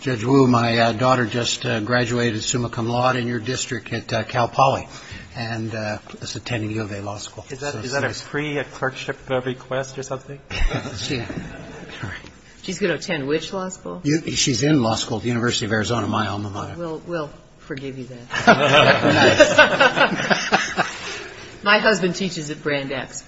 Judge Wu, my daughter just graduated summa cum laude in your district at Cal Poly and is attending U of A Law School. Is that a free clerkship request or something? She's going to attend which law school? She's in law school at the University of Arizona, my alma mater. We'll forgive you then. My husband teaches at Brandeis.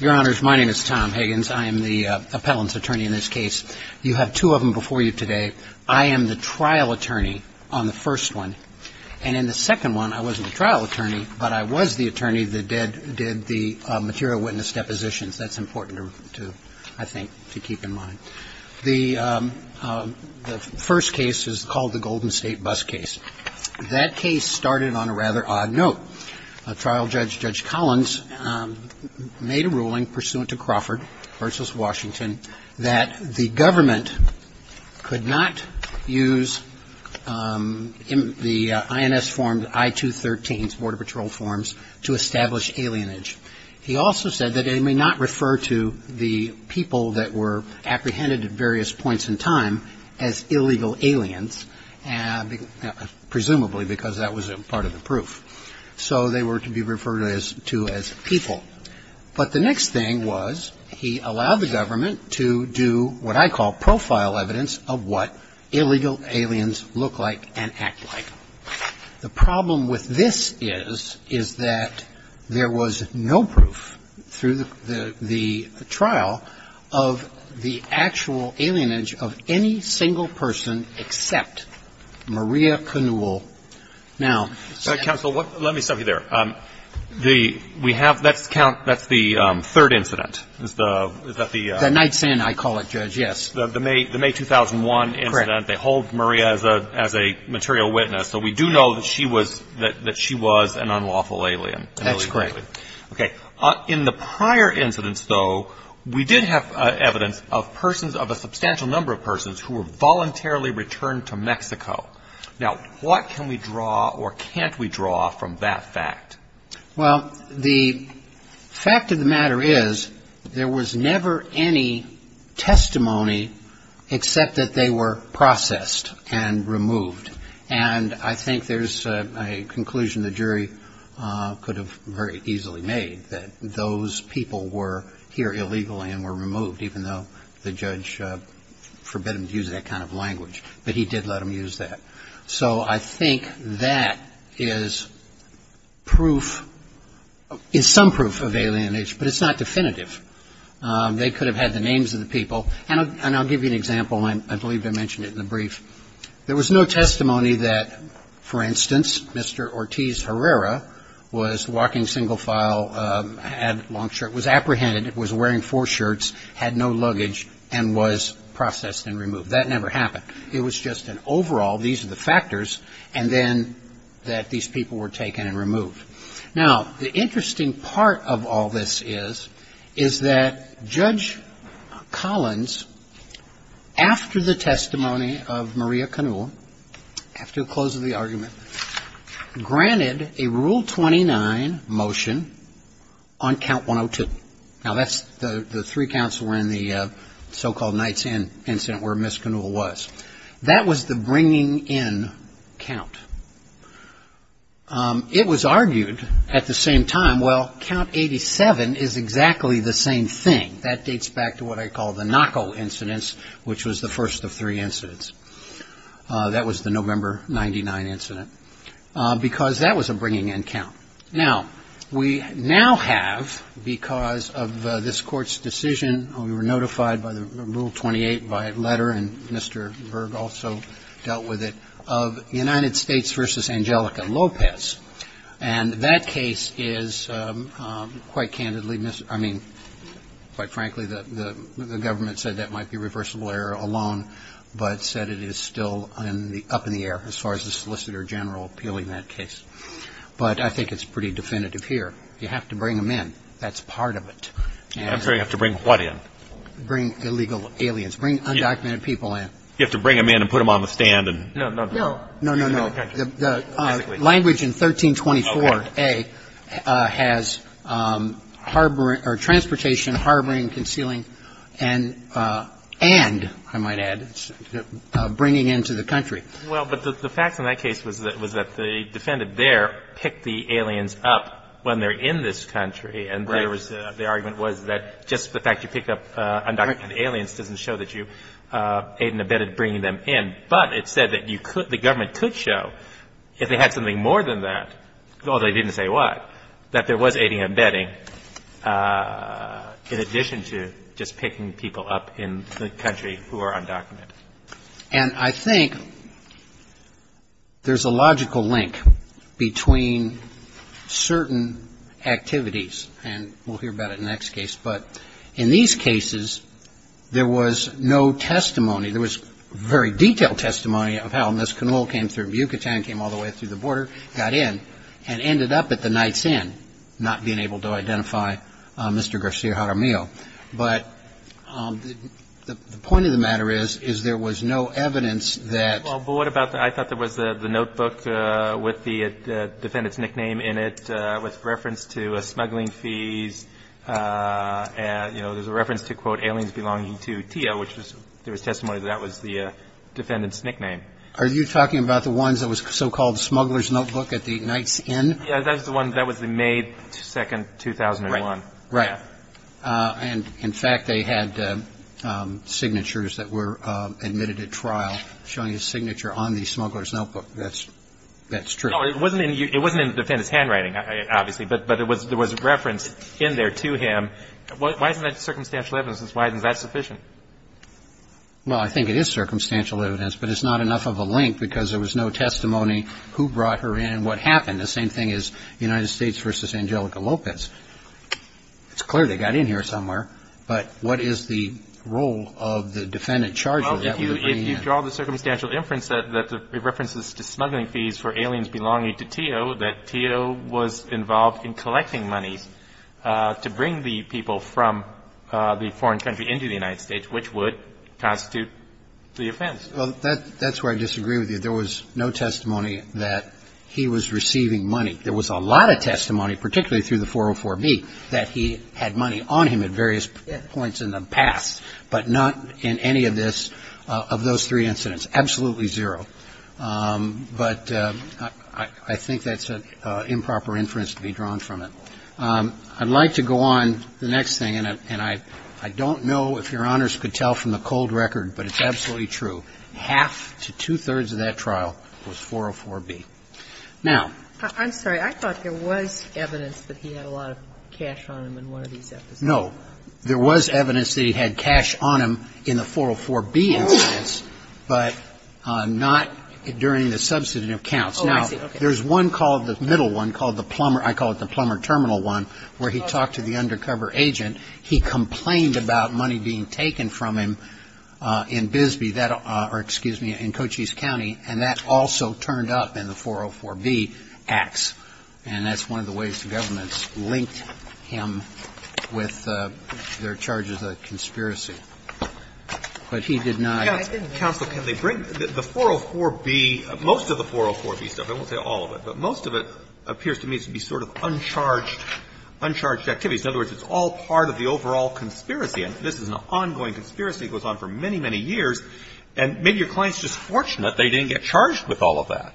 Your Honors, my name is Tom Higgins. I am the appellant's attorney in this case. You have two of them before you today. I am the trial attorney on the first one. And in the second one, I wasn't a trial attorney, but I was the attorney that did the material witness depositions. That's important to, I think, to keep in mind. The first case is called the Golden State Bus Case. That case started on a rather odd note. A trial judge, Judge Collins, made a ruling pursuant to Crawford v. Washington, that the government could not use the INS form, I-213, Border Patrol forms, to establish alienage. He also said that it may not refer to the people that were apprehended at various points in time as illegal aliens, presumably because that was part of the proof. So they were to be referred to as people. But the next thing was he allowed the government to do what I call profile evidence of what illegal aliens look like and act like. The problem with this is, is that there was no proof through the trial of the actual alienage of any single person except Maria Canul. Now ---- But, counsel, let me stop you there. The ---- we have ---- that's count ---- that's the third incident. Is that the ---- The night sin, I call it, Judge, yes. The May 2001 incident. Correct. They hold Maria as a material witness. So we do know that she was an unlawful alien. That's correct. Okay. In the prior incidents, though, we did have evidence of persons, of a substantial number of persons, who were voluntarily returned to Mexico. Now, what can we draw or can't we draw from that fact? Well, the fact of the matter is there was never any testimony except that they were processed and removed. And I think there's a conclusion the jury could have very easily made, that those people were here illegally and were removed, even though the judge forbid them to use that kind of language. But he did let them use that. So I think that is proof, is some proof of alienage, but it's not definitive. They could have had the names of the people. And I'll give you an example. I believe I mentioned it in the brief. There was no testimony that, for instance, Mr. Ortiz Herrera was walking single file, had a long shirt, was apprehended, was wearing four shirts, had no luggage, and was processed and removed. That never happened. It was just an overall, these are the factors, and then that these people were taken and removed. Now, the interesting part of all this is, is that Judge Collins, after the testimony of Maria Canula, after the close of the argument, granted a Rule 29 motion on Count 102. Now, that's the three counts that were in the so-called Knight's Inn incident where Ms. Canula was. That was the bringing in count. It was argued at the same time, well, Count 87 is exactly the same thing. That dates back to what I call the Knocko incidents, which was the first of three incidents. That was the November 99 incident, because that was a bringing in count. Now, we now have, because of this Court's decision, we were notified by the Rule 28 by letter, and Mr. Berg also dealt with it, of United States v. Angelica Lopez. And that case is quite candidly, I mean, quite frankly, the government said that might be reversible error alone, but said it is still up in the air as far as the Solicitor General appealing that case. But I think it's pretty definitive here. You have to bring them in. That's part of it. And you have to bring what in? Bring illegal aliens. Bring undocumented people in. You have to bring them in and put them on the stand and... No, no, no. No, no, no. The language in 1324a has harboring or transportation, harboring, concealing, and, and, I might add, bringing into the country. Well, but the facts in that case was that the defendant there picked the aliens up when they're in this country. And there was, the argument was that just the fact you pick up undocumented aliens doesn't show that you aided and abetted bringing them in. But it said that you could, the government could show, if they had something more than that, although they didn't say what, that there was aiding and abetting in addition to just picking people up in the country who are undocumented. And I think there's a logical link between certain activities. And we'll hear about it in the next case. But in these cases, there was no testimony. There was very detailed testimony of how Ms. Canole came through Yucatan, came all the way through the border, got in, and ended up at the Knight's Inn, not being able to identify Mr. Garcia Jaramillo. But the point of the matter is, is there was no evidence that. Well, but what about the, I thought there was the notebook with the defendant's nickname in it with reference to smuggling fees. You know, there's a reference to, quote, aliens belonging to Tia, which there was testimony that that was the defendant's nickname. Are you talking about the ones that was so-called smuggler's notebook at the Knight's Inn? Yeah, that was the one, that was the May 2, 2001. Right. And, in fact, they had signatures that were admitted at trial showing a signature on the smuggler's notebook. That's true. No, it wasn't in the defendant's handwriting, obviously. But there was a reference in there to him. Why isn't that circumstantial evidence? Why isn't that sufficient? Well, I think it is circumstantial evidence. But it's not enough of a link because there was no testimony who brought her in and what happened. The same thing as United States v. Angelica Lopez. It's clear they got in here somewhere. But what is the role of the defendant charged with that? Well, if you draw the circumstantial inference that it references to smuggling fees for aliens belonging to Tia, that Tia was involved in collecting money to bring the people from the foreign country into the United States, which would constitute the offense. Well, that's where I disagree with you. There was no testimony that he was receiving money. There was a lot of testimony, particularly through the 404-B, that he had money on him at various points in the past, but not in any of this, of those three incidents. Absolutely zero. But I think that's an improper inference to be drawn from it. I'd like to go on. The next thing, and I don't know if Your Honors could tell from the cold record, but it's absolutely true. Half to two-thirds of that trial was 404-B. Now ---- I'm sorry. I thought there was evidence that he had a lot of cash on him in one of these episodes. No. There was evidence that he had cash on him in the 404-B incidents, but not during the substantive counts. Oh, I see. Okay. Now, there's one called, the middle one, called the plumber, I call it the plumber terminal one, where he talked to the undercover agent. He complained about money being taken from him in Bisbee that or, excuse me, in Cochise County, and that also turned up in the 404-B acts. And that's one of the ways the government linked him with their charges of conspiracy. But he did not ---- Counsel, can they bring the 404-B, most of the 404-B stuff, I won't say all of it, but most of it appears to me to be sort of uncharged activities. In other words, it's all part of the overall conspiracy. And this is an ongoing conspiracy. It goes on for many, many years. And maybe your client's just fortunate they didn't get charged with all of that.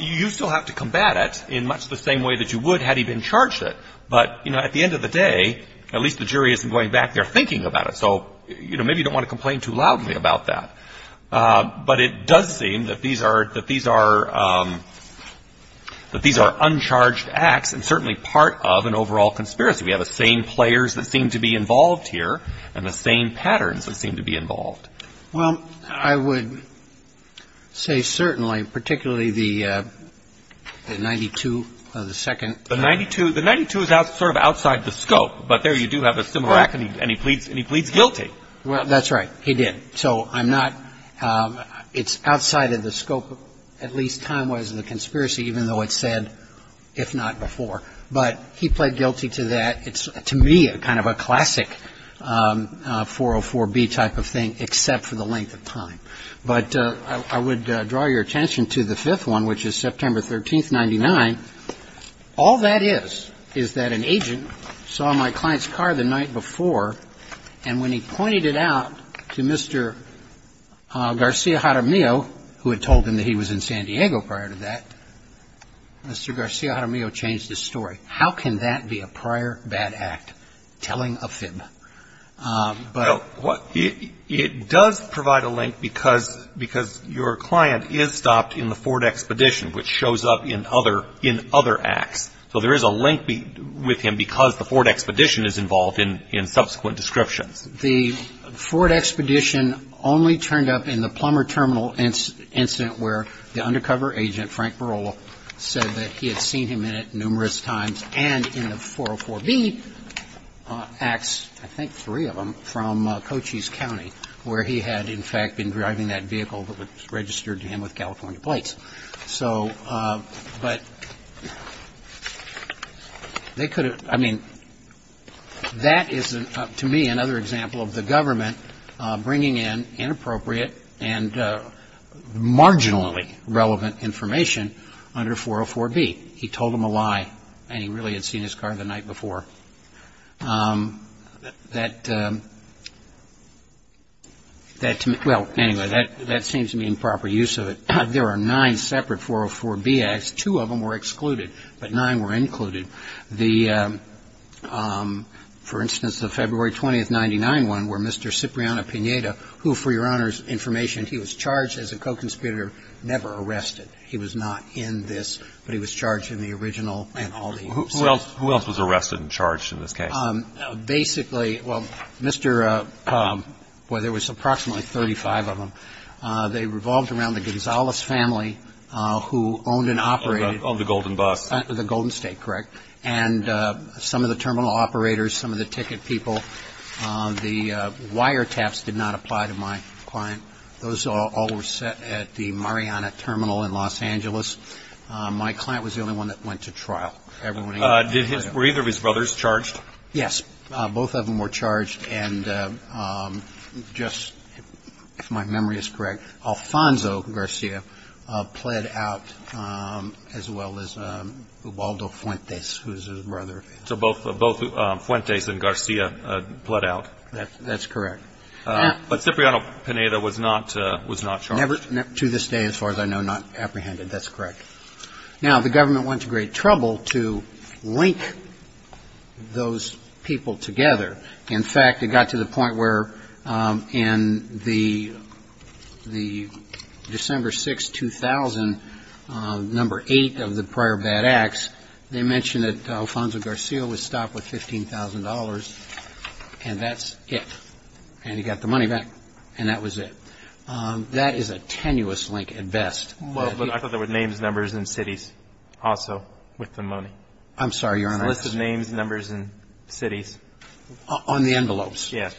You still have to combat it in much the same way that you would had he been charged it. But, you know, at the end of the day, at least the jury isn't going back there thinking about it. So, you know, maybe you don't want to complain too loudly about that. But it does seem that these are uncharged acts and certainly part of an overall conspiracy. We have the same players that seem to be involved here and the same patterns that seem to be involved. Well, I would say certainly, particularly the 92 of the second. The 92? The 92 is sort of outside the scope. But there you do have a similar act, and he pleads guilty. Well, that's right. He did. So I'm not – it's outside of the scope, at least time-wise, of the conspiracy, even though it's said, if not before. But he pled guilty to that. It's, to me, kind of a classic 404B type of thing, except for the length of time. But I would draw your attention to the fifth one, which is September 13th, 99. All that is, is that an agent saw my client's car the night before, and when he pointed it out to Mr. Garcia-Jaramillo, who had told him that he was in San Diego prior to that, Mr. Garcia-Jaramillo changed his story. How can that be a prior bad act, telling a fib? It does provide a link, because your client is stopped in the Ford Expedition, which shows up in other acts. So there is a link with him because the Ford Expedition is involved in subsequent descriptions. The Ford Expedition only turned up in the Plummer Terminal incident, where the undercover agent, Frank Barola, said that he had seen him in it numerous times, and in the 404B acts, I think three of them, from Cochise County, where he had, in fact, been driving that vehicle that was registered to him with California plates. So, but they could have, I mean, that is, to me, another example of the government bringing in inappropriate and marginally relevant information under 404B. He told them a lie, and he really had seen his car the night before. That, well, anyway, that seems to be improper use of it. There are nine separate 404B acts. Two of them were excluded, but nine were included. The, for instance, the February 20, 1999 one, where Mr. Cipriano-Pineda, who, for your Honor's information, he was charged as a co-conspirator, never arrested. He was not in this, but he was charged in the original and all the incidents. Who else was arrested and charged in this case? Basically, well, Mr. — well, there was approximately 35 of them. They revolved around the Gonzales family, who owned and operated — Owned the Golden Bus. The Golden State, correct. And some of the terminal operators, some of the ticket people. The wiretaps did not apply to my client. Those all were set at the Mariana Terminal in Los Angeles. My client was the only one that went to trial. Were either of his brothers charged? Yes. Both of them were charged, and just, if my memory is correct, Alfonso Garcia pled out, as well as Ubaldo Fuentes, who was his brother. So both Fuentes and Garcia pled out. That's correct. But Cipriano-Pineda was not charged? To this day, as far as I know, not apprehended. That's correct. Now, the government went to great trouble to link those people together. In fact, it got to the point where in the December 6, 2000, number 8 of the prior bad acts, they mentioned that Alfonso Garcia was stopped with $15,000, and that's it. And he got the money back, and that was it. That is a tenuous link at best. Well, but I thought there were names, numbers, and cities also with the money. I'm sorry, Your Honor. There's a list of names, numbers, and cities. On the envelopes? Yes.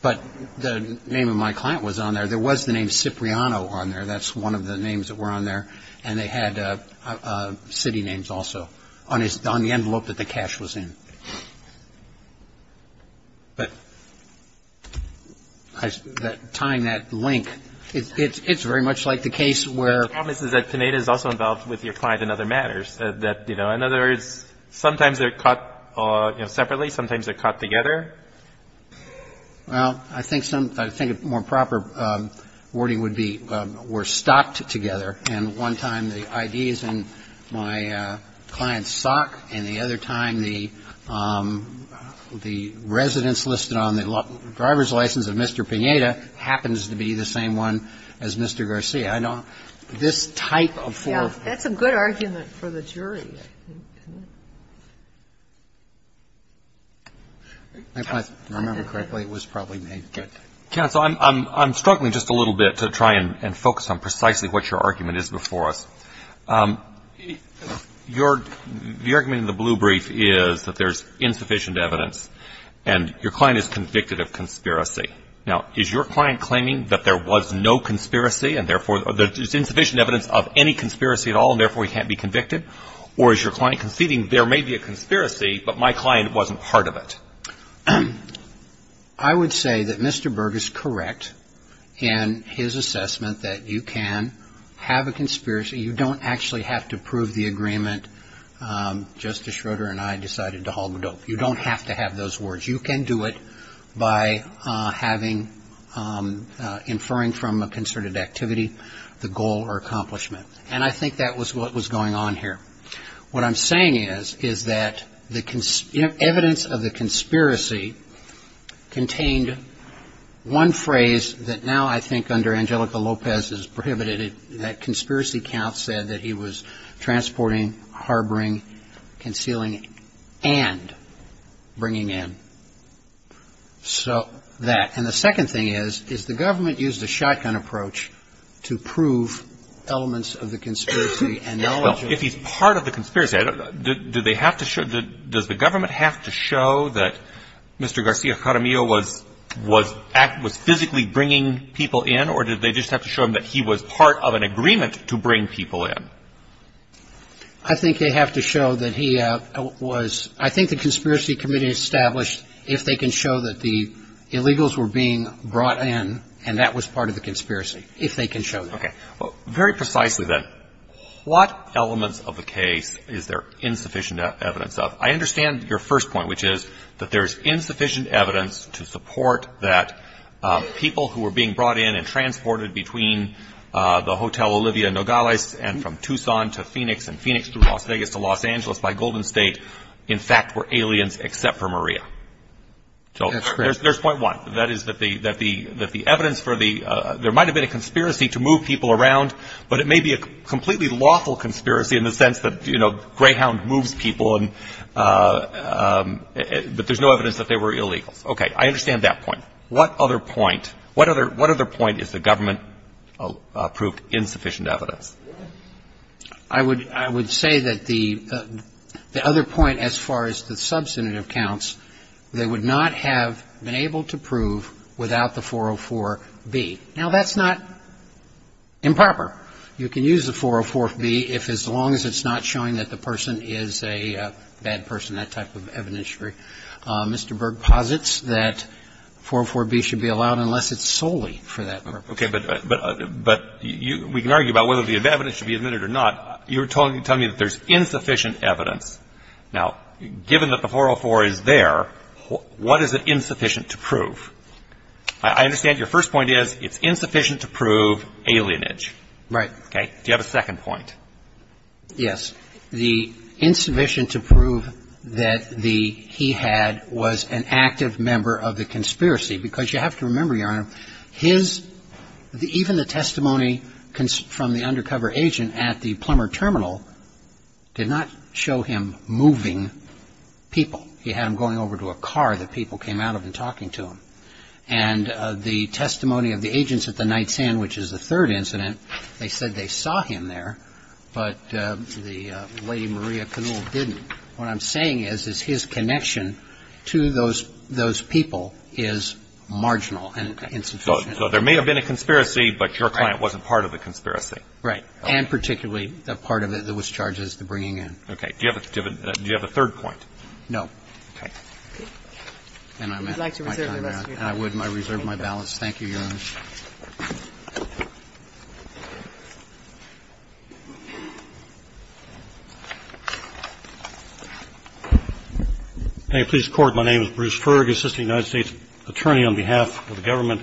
But the name of my client was on there. There was the name Cipriano on there. That's one of the names that were on there. And they had city names also on the envelope that the cash was in. But tying that link, it's very much like the case where ---- The problem is that Pineda is also involved with your client in other matters. That, you know, in other words, sometimes they're caught separately, sometimes they're caught together. Well, I think some ---- I think a more proper wording would be we're stopped together. And one time the ID is in my client's sock, and the other time the residence listed on the driver's license of Mr. Pineda happens to be the same one as Mr. Garcia. I don't ---- this type of four ---- That's a good argument for the jury. If I remember correctly, it was probably named Cipriano. Counsel, I'm struggling just a little bit to try and focus on precisely what your argument is before us. Your ---- your argument in the blue brief is that there's insufficient evidence, and your client is convicted of conspiracy. Now, is your client claiming that there was no conspiracy and, therefore, there's insufficient evidence of any conspiracy at all, and, therefore, he can't be convicted? Or is your client conceding there may be a conspiracy, but my client wasn't part of it? I would say that Mr. Berg is correct in his assessment that you can have a conspiracy. You don't actually have to prove the agreement. Justice Schroeder and I decided to hog the dope. You don't have to have those words. You can do it by having ---- inferring from a concerted activity the goal or accomplishment. And I think that was what was going on here. What I'm saying is, is that the evidence of the conspiracy contained one phrase that now, I think, under Angelica Lopez is prohibited. That conspiracy count said that he was transporting, harboring, concealing, and bringing in. So that ---- and the second thing is, is the government used a shotgun approach to prove elements of the conspiracy and ---- Well, if he's part of the conspiracy, do they have to show ---- does the government have to show that Mr. I think they have to show that he was ---- I think the conspiracy committee established if they can show that the illegals were being brought in and that was part of the conspiracy, if they can show that. Okay. Very precisely then, what elements of the case is there insufficient evidence of? I understand your first point, which is that there is insufficient evidence to support that people who were being brought in and transported between the Hotel Olivia Nogales and from Tucson to Phoenix and Phoenix to Las Vegas to Los Angeles by Golden State in fact were aliens except for Maria. That's correct. So there's point one. That is that the evidence for the ---- there might have been a conspiracy to move people around, but it may be a completely lawful conspiracy in the sense that, you know, Greyhound moves people and ---- but there's no evidence that they were illegals. Okay. I understand that point. What other point? What other point is the government proved insufficient evidence? I would say that the other point as far as the substantive counts, they would not have been able to prove without the 404b. Now, that's not improper. You can use the 404b if as long as it's not showing that the person is a bad person, that type of evidence. That's not a lawful conspiracy. Mr. Berg posits that 404b should be allowed unless it's solely for that purpose. Okay. But you can argue about whether the evidence should be admitted or not. You're telling me that there's insufficient evidence. Now, given that the 404 is there, what is it insufficient to prove? I understand your first point is it's insufficient to prove alienage. Right. Okay. Do you have a second point? Yes. The insufficient to prove that the he-had was an active member of the conspiracy, because you have to remember, Your Honor, his – even the testimony from the undercover agent at the Plummer Terminal did not show him moving people. He had him going over to a car that people came out of and talking to him. And the testimony of the agents at the Night Sand, which is the third incident, they said they saw him there, but the Lady Maria Canul didn't. What I'm saying is, is his connection to those people is marginal and insufficient. Okay. So there may have been a conspiracy, but your client wasn't part of the conspiracy. Right. And particularly the part of it that was charged as the bringing in. Okay. Do you have a third point? No. Okay. Then I'm at my time out. Would you like to reserve the rest of your time? I would, and I reserve my balance. Thank you, Your Honor. Thank you. May it please the Court, my name is Bruce Ferg, assistant United States attorney on behalf of the government.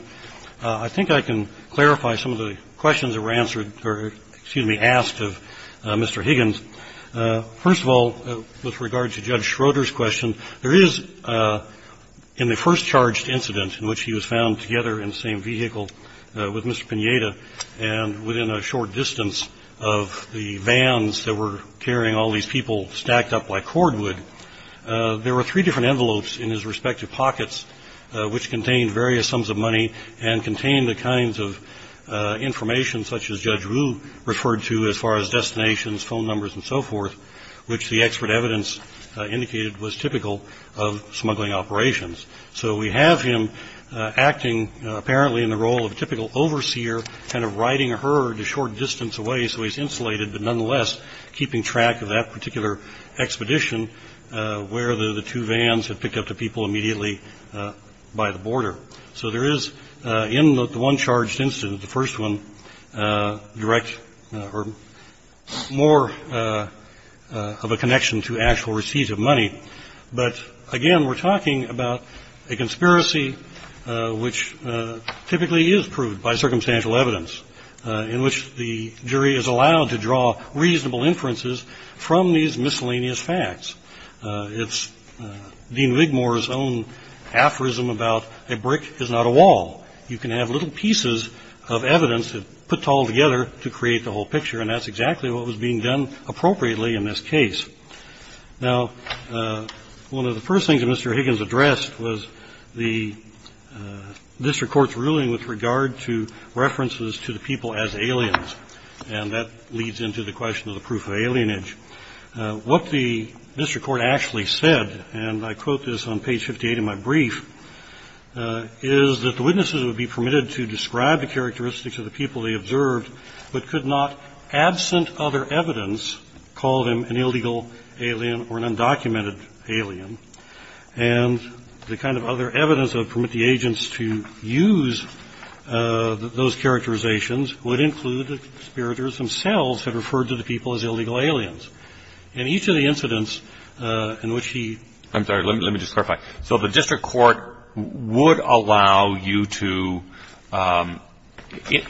I think I can clarify some of the questions that were answered or, excuse me, asked of Mr. Higgins. First of all, with regard to Judge Schroeder's question, there is, in the first charged incident in which he was found together in the same vehicle with Mr. Pineda, and within a short distance of the vans that were carrying all these people stacked up like cordwood, there were three different envelopes in his respective pockets which contained various sums of money and contained the kinds of information such as Judge Wu referred to as far as destinations, phone numbers, and so forth, which the expert evidence indicated was typical of smuggling operations. So we have him acting apparently in the role of a typical overseer kind of riding a herd a short distance away so he's insulated, but nonetheless keeping track of that particular expedition where the two vans had picked up the people immediately by the border. So there is, in the one charged incident, the first one, direct or more of a connection to actual receipts of money. But again, we're talking about a conspiracy which typically is proved by circumstantial evidence in which the jury is allowed to draw reasonable inferences from these miscellaneous facts. It's Dean Wigmore's own aphorism about a brick is not a wall. You can have little pieces of evidence put all together to create the whole picture, and that's exactly what was being done appropriately in this case. Now, one of the first things that Mr. Higgins addressed was the district court's ruling with regard to references to the people as aliens, and that leads into the question of the proof of alienage. What the district court actually said, and I quote this on page 58 of my brief, is that the witnesses would be permitted to describe the characteristics of the people they observed but could not, absent other evidence, call them an illegal alien or an undocumented alien. And the kind of other evidence that would permit the agents to use those characterizations would include the conspirators themselves had referred to the people as illegal aliens. In each of the incidents in which he ---- I'm sorry, let me just clarify. So the district court would allow you to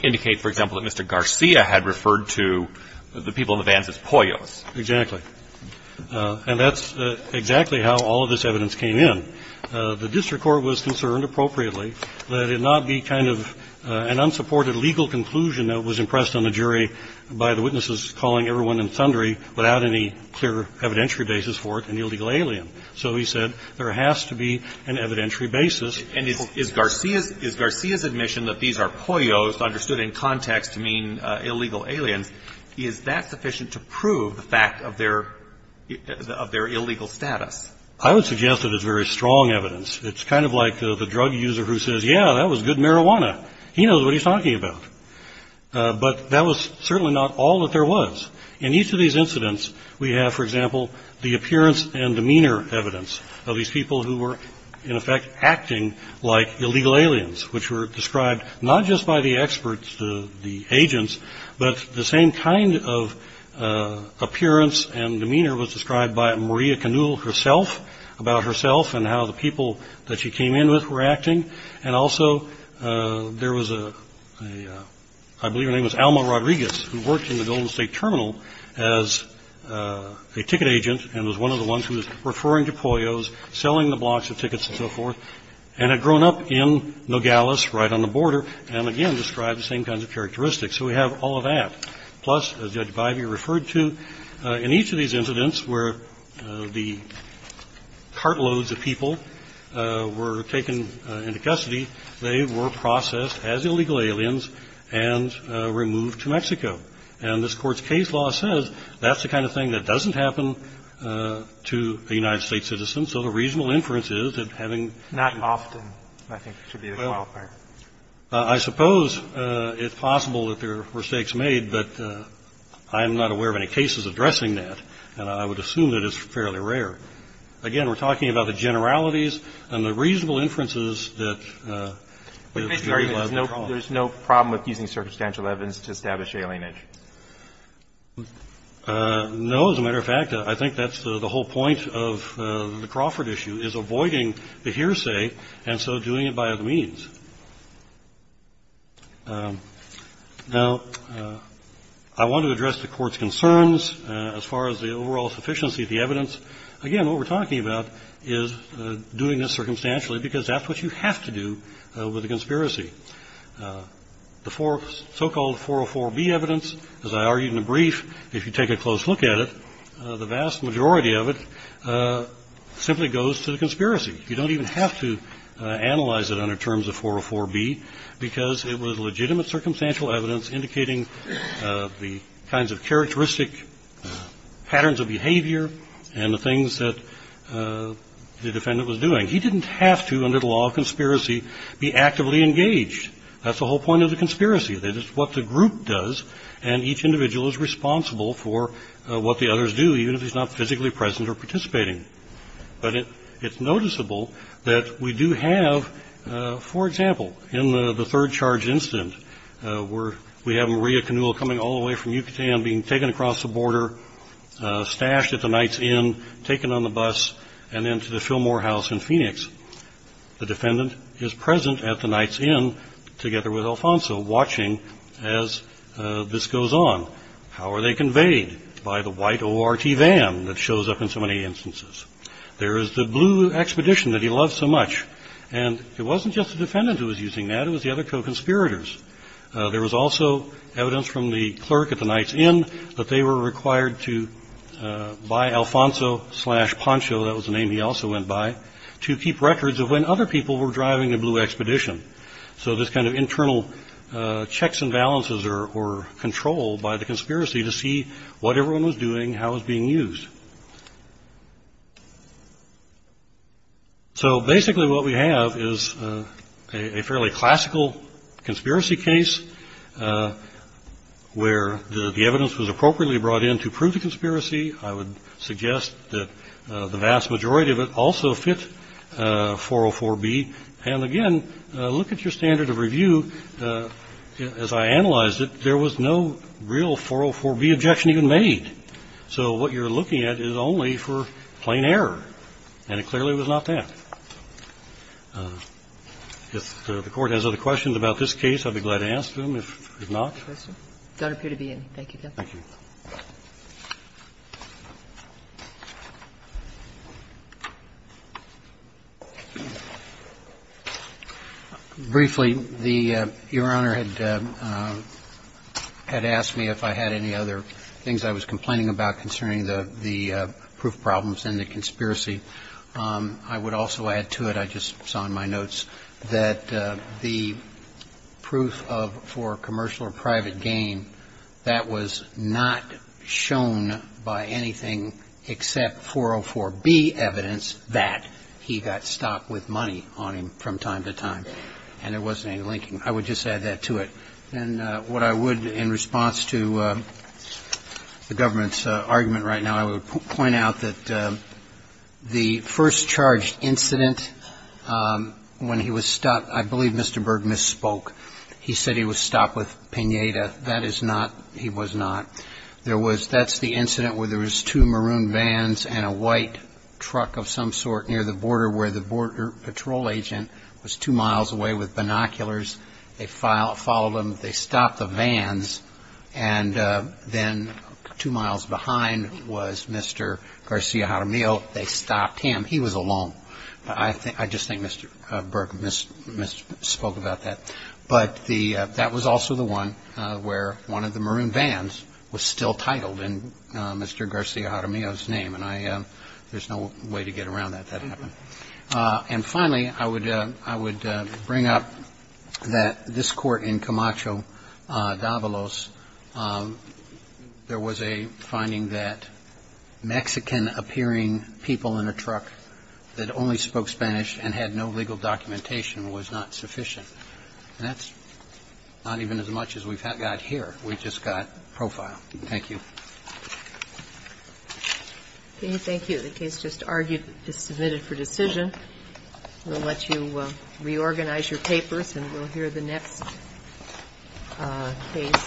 indicate, for example, that Mr. Garcia had referred to the people in the vans as poyos. Exactly. And that's exactly how all of this evidence came in. The district court was concerned appropriately that it not be kind of an unsupported legal conclusion that was impressed on the jury by the witnesses calling everyone without any clear evidentiary basis for it an illegal alien. So he said there has to be an evidentiary basis. And is Garcia's admission that these are poyos understood in context to mean illegal aliens, is that sufficient to prove the fact of their illegal status? I would suggest that it's very strong evidence. It's kind of like the drug user who says, yeah, that was good marijuana. He knows what he's talking about. But that was certainly not all that there was. In each of these incidents, we have, for example, the appearance and demeanor evidence of these people who were, in effect, acting like illegal aliens, which were described not just by the experts, the agents, but the same kind of appearance and demeanor was described by Maria Canule herself, about herself and how the people that she came in with were acting. And also there was a, I believe her name was Alma Rodriguez, who worked in the Oklahoma State Terminal as a ticket agent and was one of the ones who was referring to poyos, selling the blocks of tickets and so forth, and had grown up in Nogales right on the border and, again, described the same kinds of characteristics. So we have all of that. Plus, as Judge Bybee referred to, in each of these incidents where the cartloads of people were taken into custody, they were processed as illegal aliens and removed to Mexico. And this Court's case law says that's the kind of thing that doesn't happen to a United States citizen. So the reasonable inference is that having to do that. Roberts. Not often, I think, should be the qualifier. Well, I suppose it's possible that there were mistakes made, but I am not aware of any cases addressing that. And I would assume that it's fairly rare. Again, we're talking about the generalities and the reasonable inferences that the people had no problem. I'm sorry. There's no problem with using circumstantial evidence to establish alienage? No. As a matter of fact, I think that's the whole point of the Crawford issue, is avoiding the hearsay and so doing it by other means. Now, I want to address the Court's concerns as far as the overall sufficiency of the evidence. Again, what we're talking about is doing this circumstantially because that's what you have to do with a conspiracy. The so-called 404B evidence, as I argued in the brief, if you take a close look at it, the vast majority of it simply goes to the conspiracy. You don't even have to analyze it under terms of 404B because it was legitimate circumstantial evidence indicating the kinds of characteristic patterns of behavior and the things that the defendant was doing. He didn't have to, under the law of conspiracy, be actively engaged. That's the whole point of the conspiracy, that it's what the group does and each individual is responsible for what the others do, even if he's not physically present or participating. But it's noticeable that we do have, for example, in the third charge incident where we have Maria Canule coming all the way from Yucatan, being taken across the border, stashed at the Knight's Inn, taken on the bus, and then to the Fillmore House in Phoenix, the defendant is present at the Knight's Inn together with Alfonso, watching as this goes on. How are they conveyed? By the white ORT van that shows up in so many instances. There is the blue expedition that he loves so much, and it wasn't just the defendant who was using that, it was the other co-conspirators. There was also evidence from the clerk at the Knight's Inn that they were required to buy Alfonso slash Poncho, that was the name he also went by, to keep records of when other people were driving the blue expedition. So this kind of internal checks and balances are controlled by the conspiracy to see what everyone was doing, how it was being used. So basically what we have is a fairly classical conspiracy case where the evidence was appropriately brought in to prove the conspiracy. I would suggest that the vast majority of it also fit 404B. And again, look at your standard of review. As I analyzed it, there was no real 404B objection even made. So what you're looking at is only for plain error, and it clearly was not that. If the Court has other questions about this case, I'd be glad to ask them. If not. Thank you. Thank you. Briefly, the Your Honor had asked me if I had any other things I was complaining about concerning the proof problems and the conspiracy. I would also add to it, I just saw in my notes, that the proof for commercial or private gain, that was not shown by anything except 404B evidence that he got stopped with money on him from time to time. And there wasn't any linking. I would just add that to it. And what I would, in response to the government's argument right now, I would point out that the first charged incident when he was stopped, I believe Mr. Berg misspoke. He said he was stopped with piñata. That is not, he was not. That's the incident where there was two maroon vans and a white truck of some sort near the border where the border patrol agent was two miles away with binoculars. They followed him. They stopped the vans. And then two miles behind was Mr. Garcia Jaramillo. They stopped him. He was alone. I just think Mr. Berg misspoke about that. But the, that was also the one where one of the maroon vans was still titled in Mr. Garcia Jaramillo's name. And I, there's no way to get around that. That happened. And finally, I would bring up that this court in Camacho, Davalos, there was a finding that Mexican appearing people in a truck that only spoke Spanish and had no legal documentation was not sufficient. And that's not even as much as we've got here. We've just got profile. Thank you. Thank you. The case just argued is submitted for decision. We'll let you reorganize your papers and we'll hear the next case,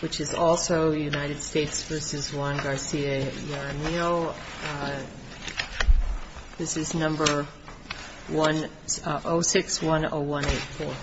which is also United States v. Juan Garcia Jaramillo. Jaramillo, this is number 0610184.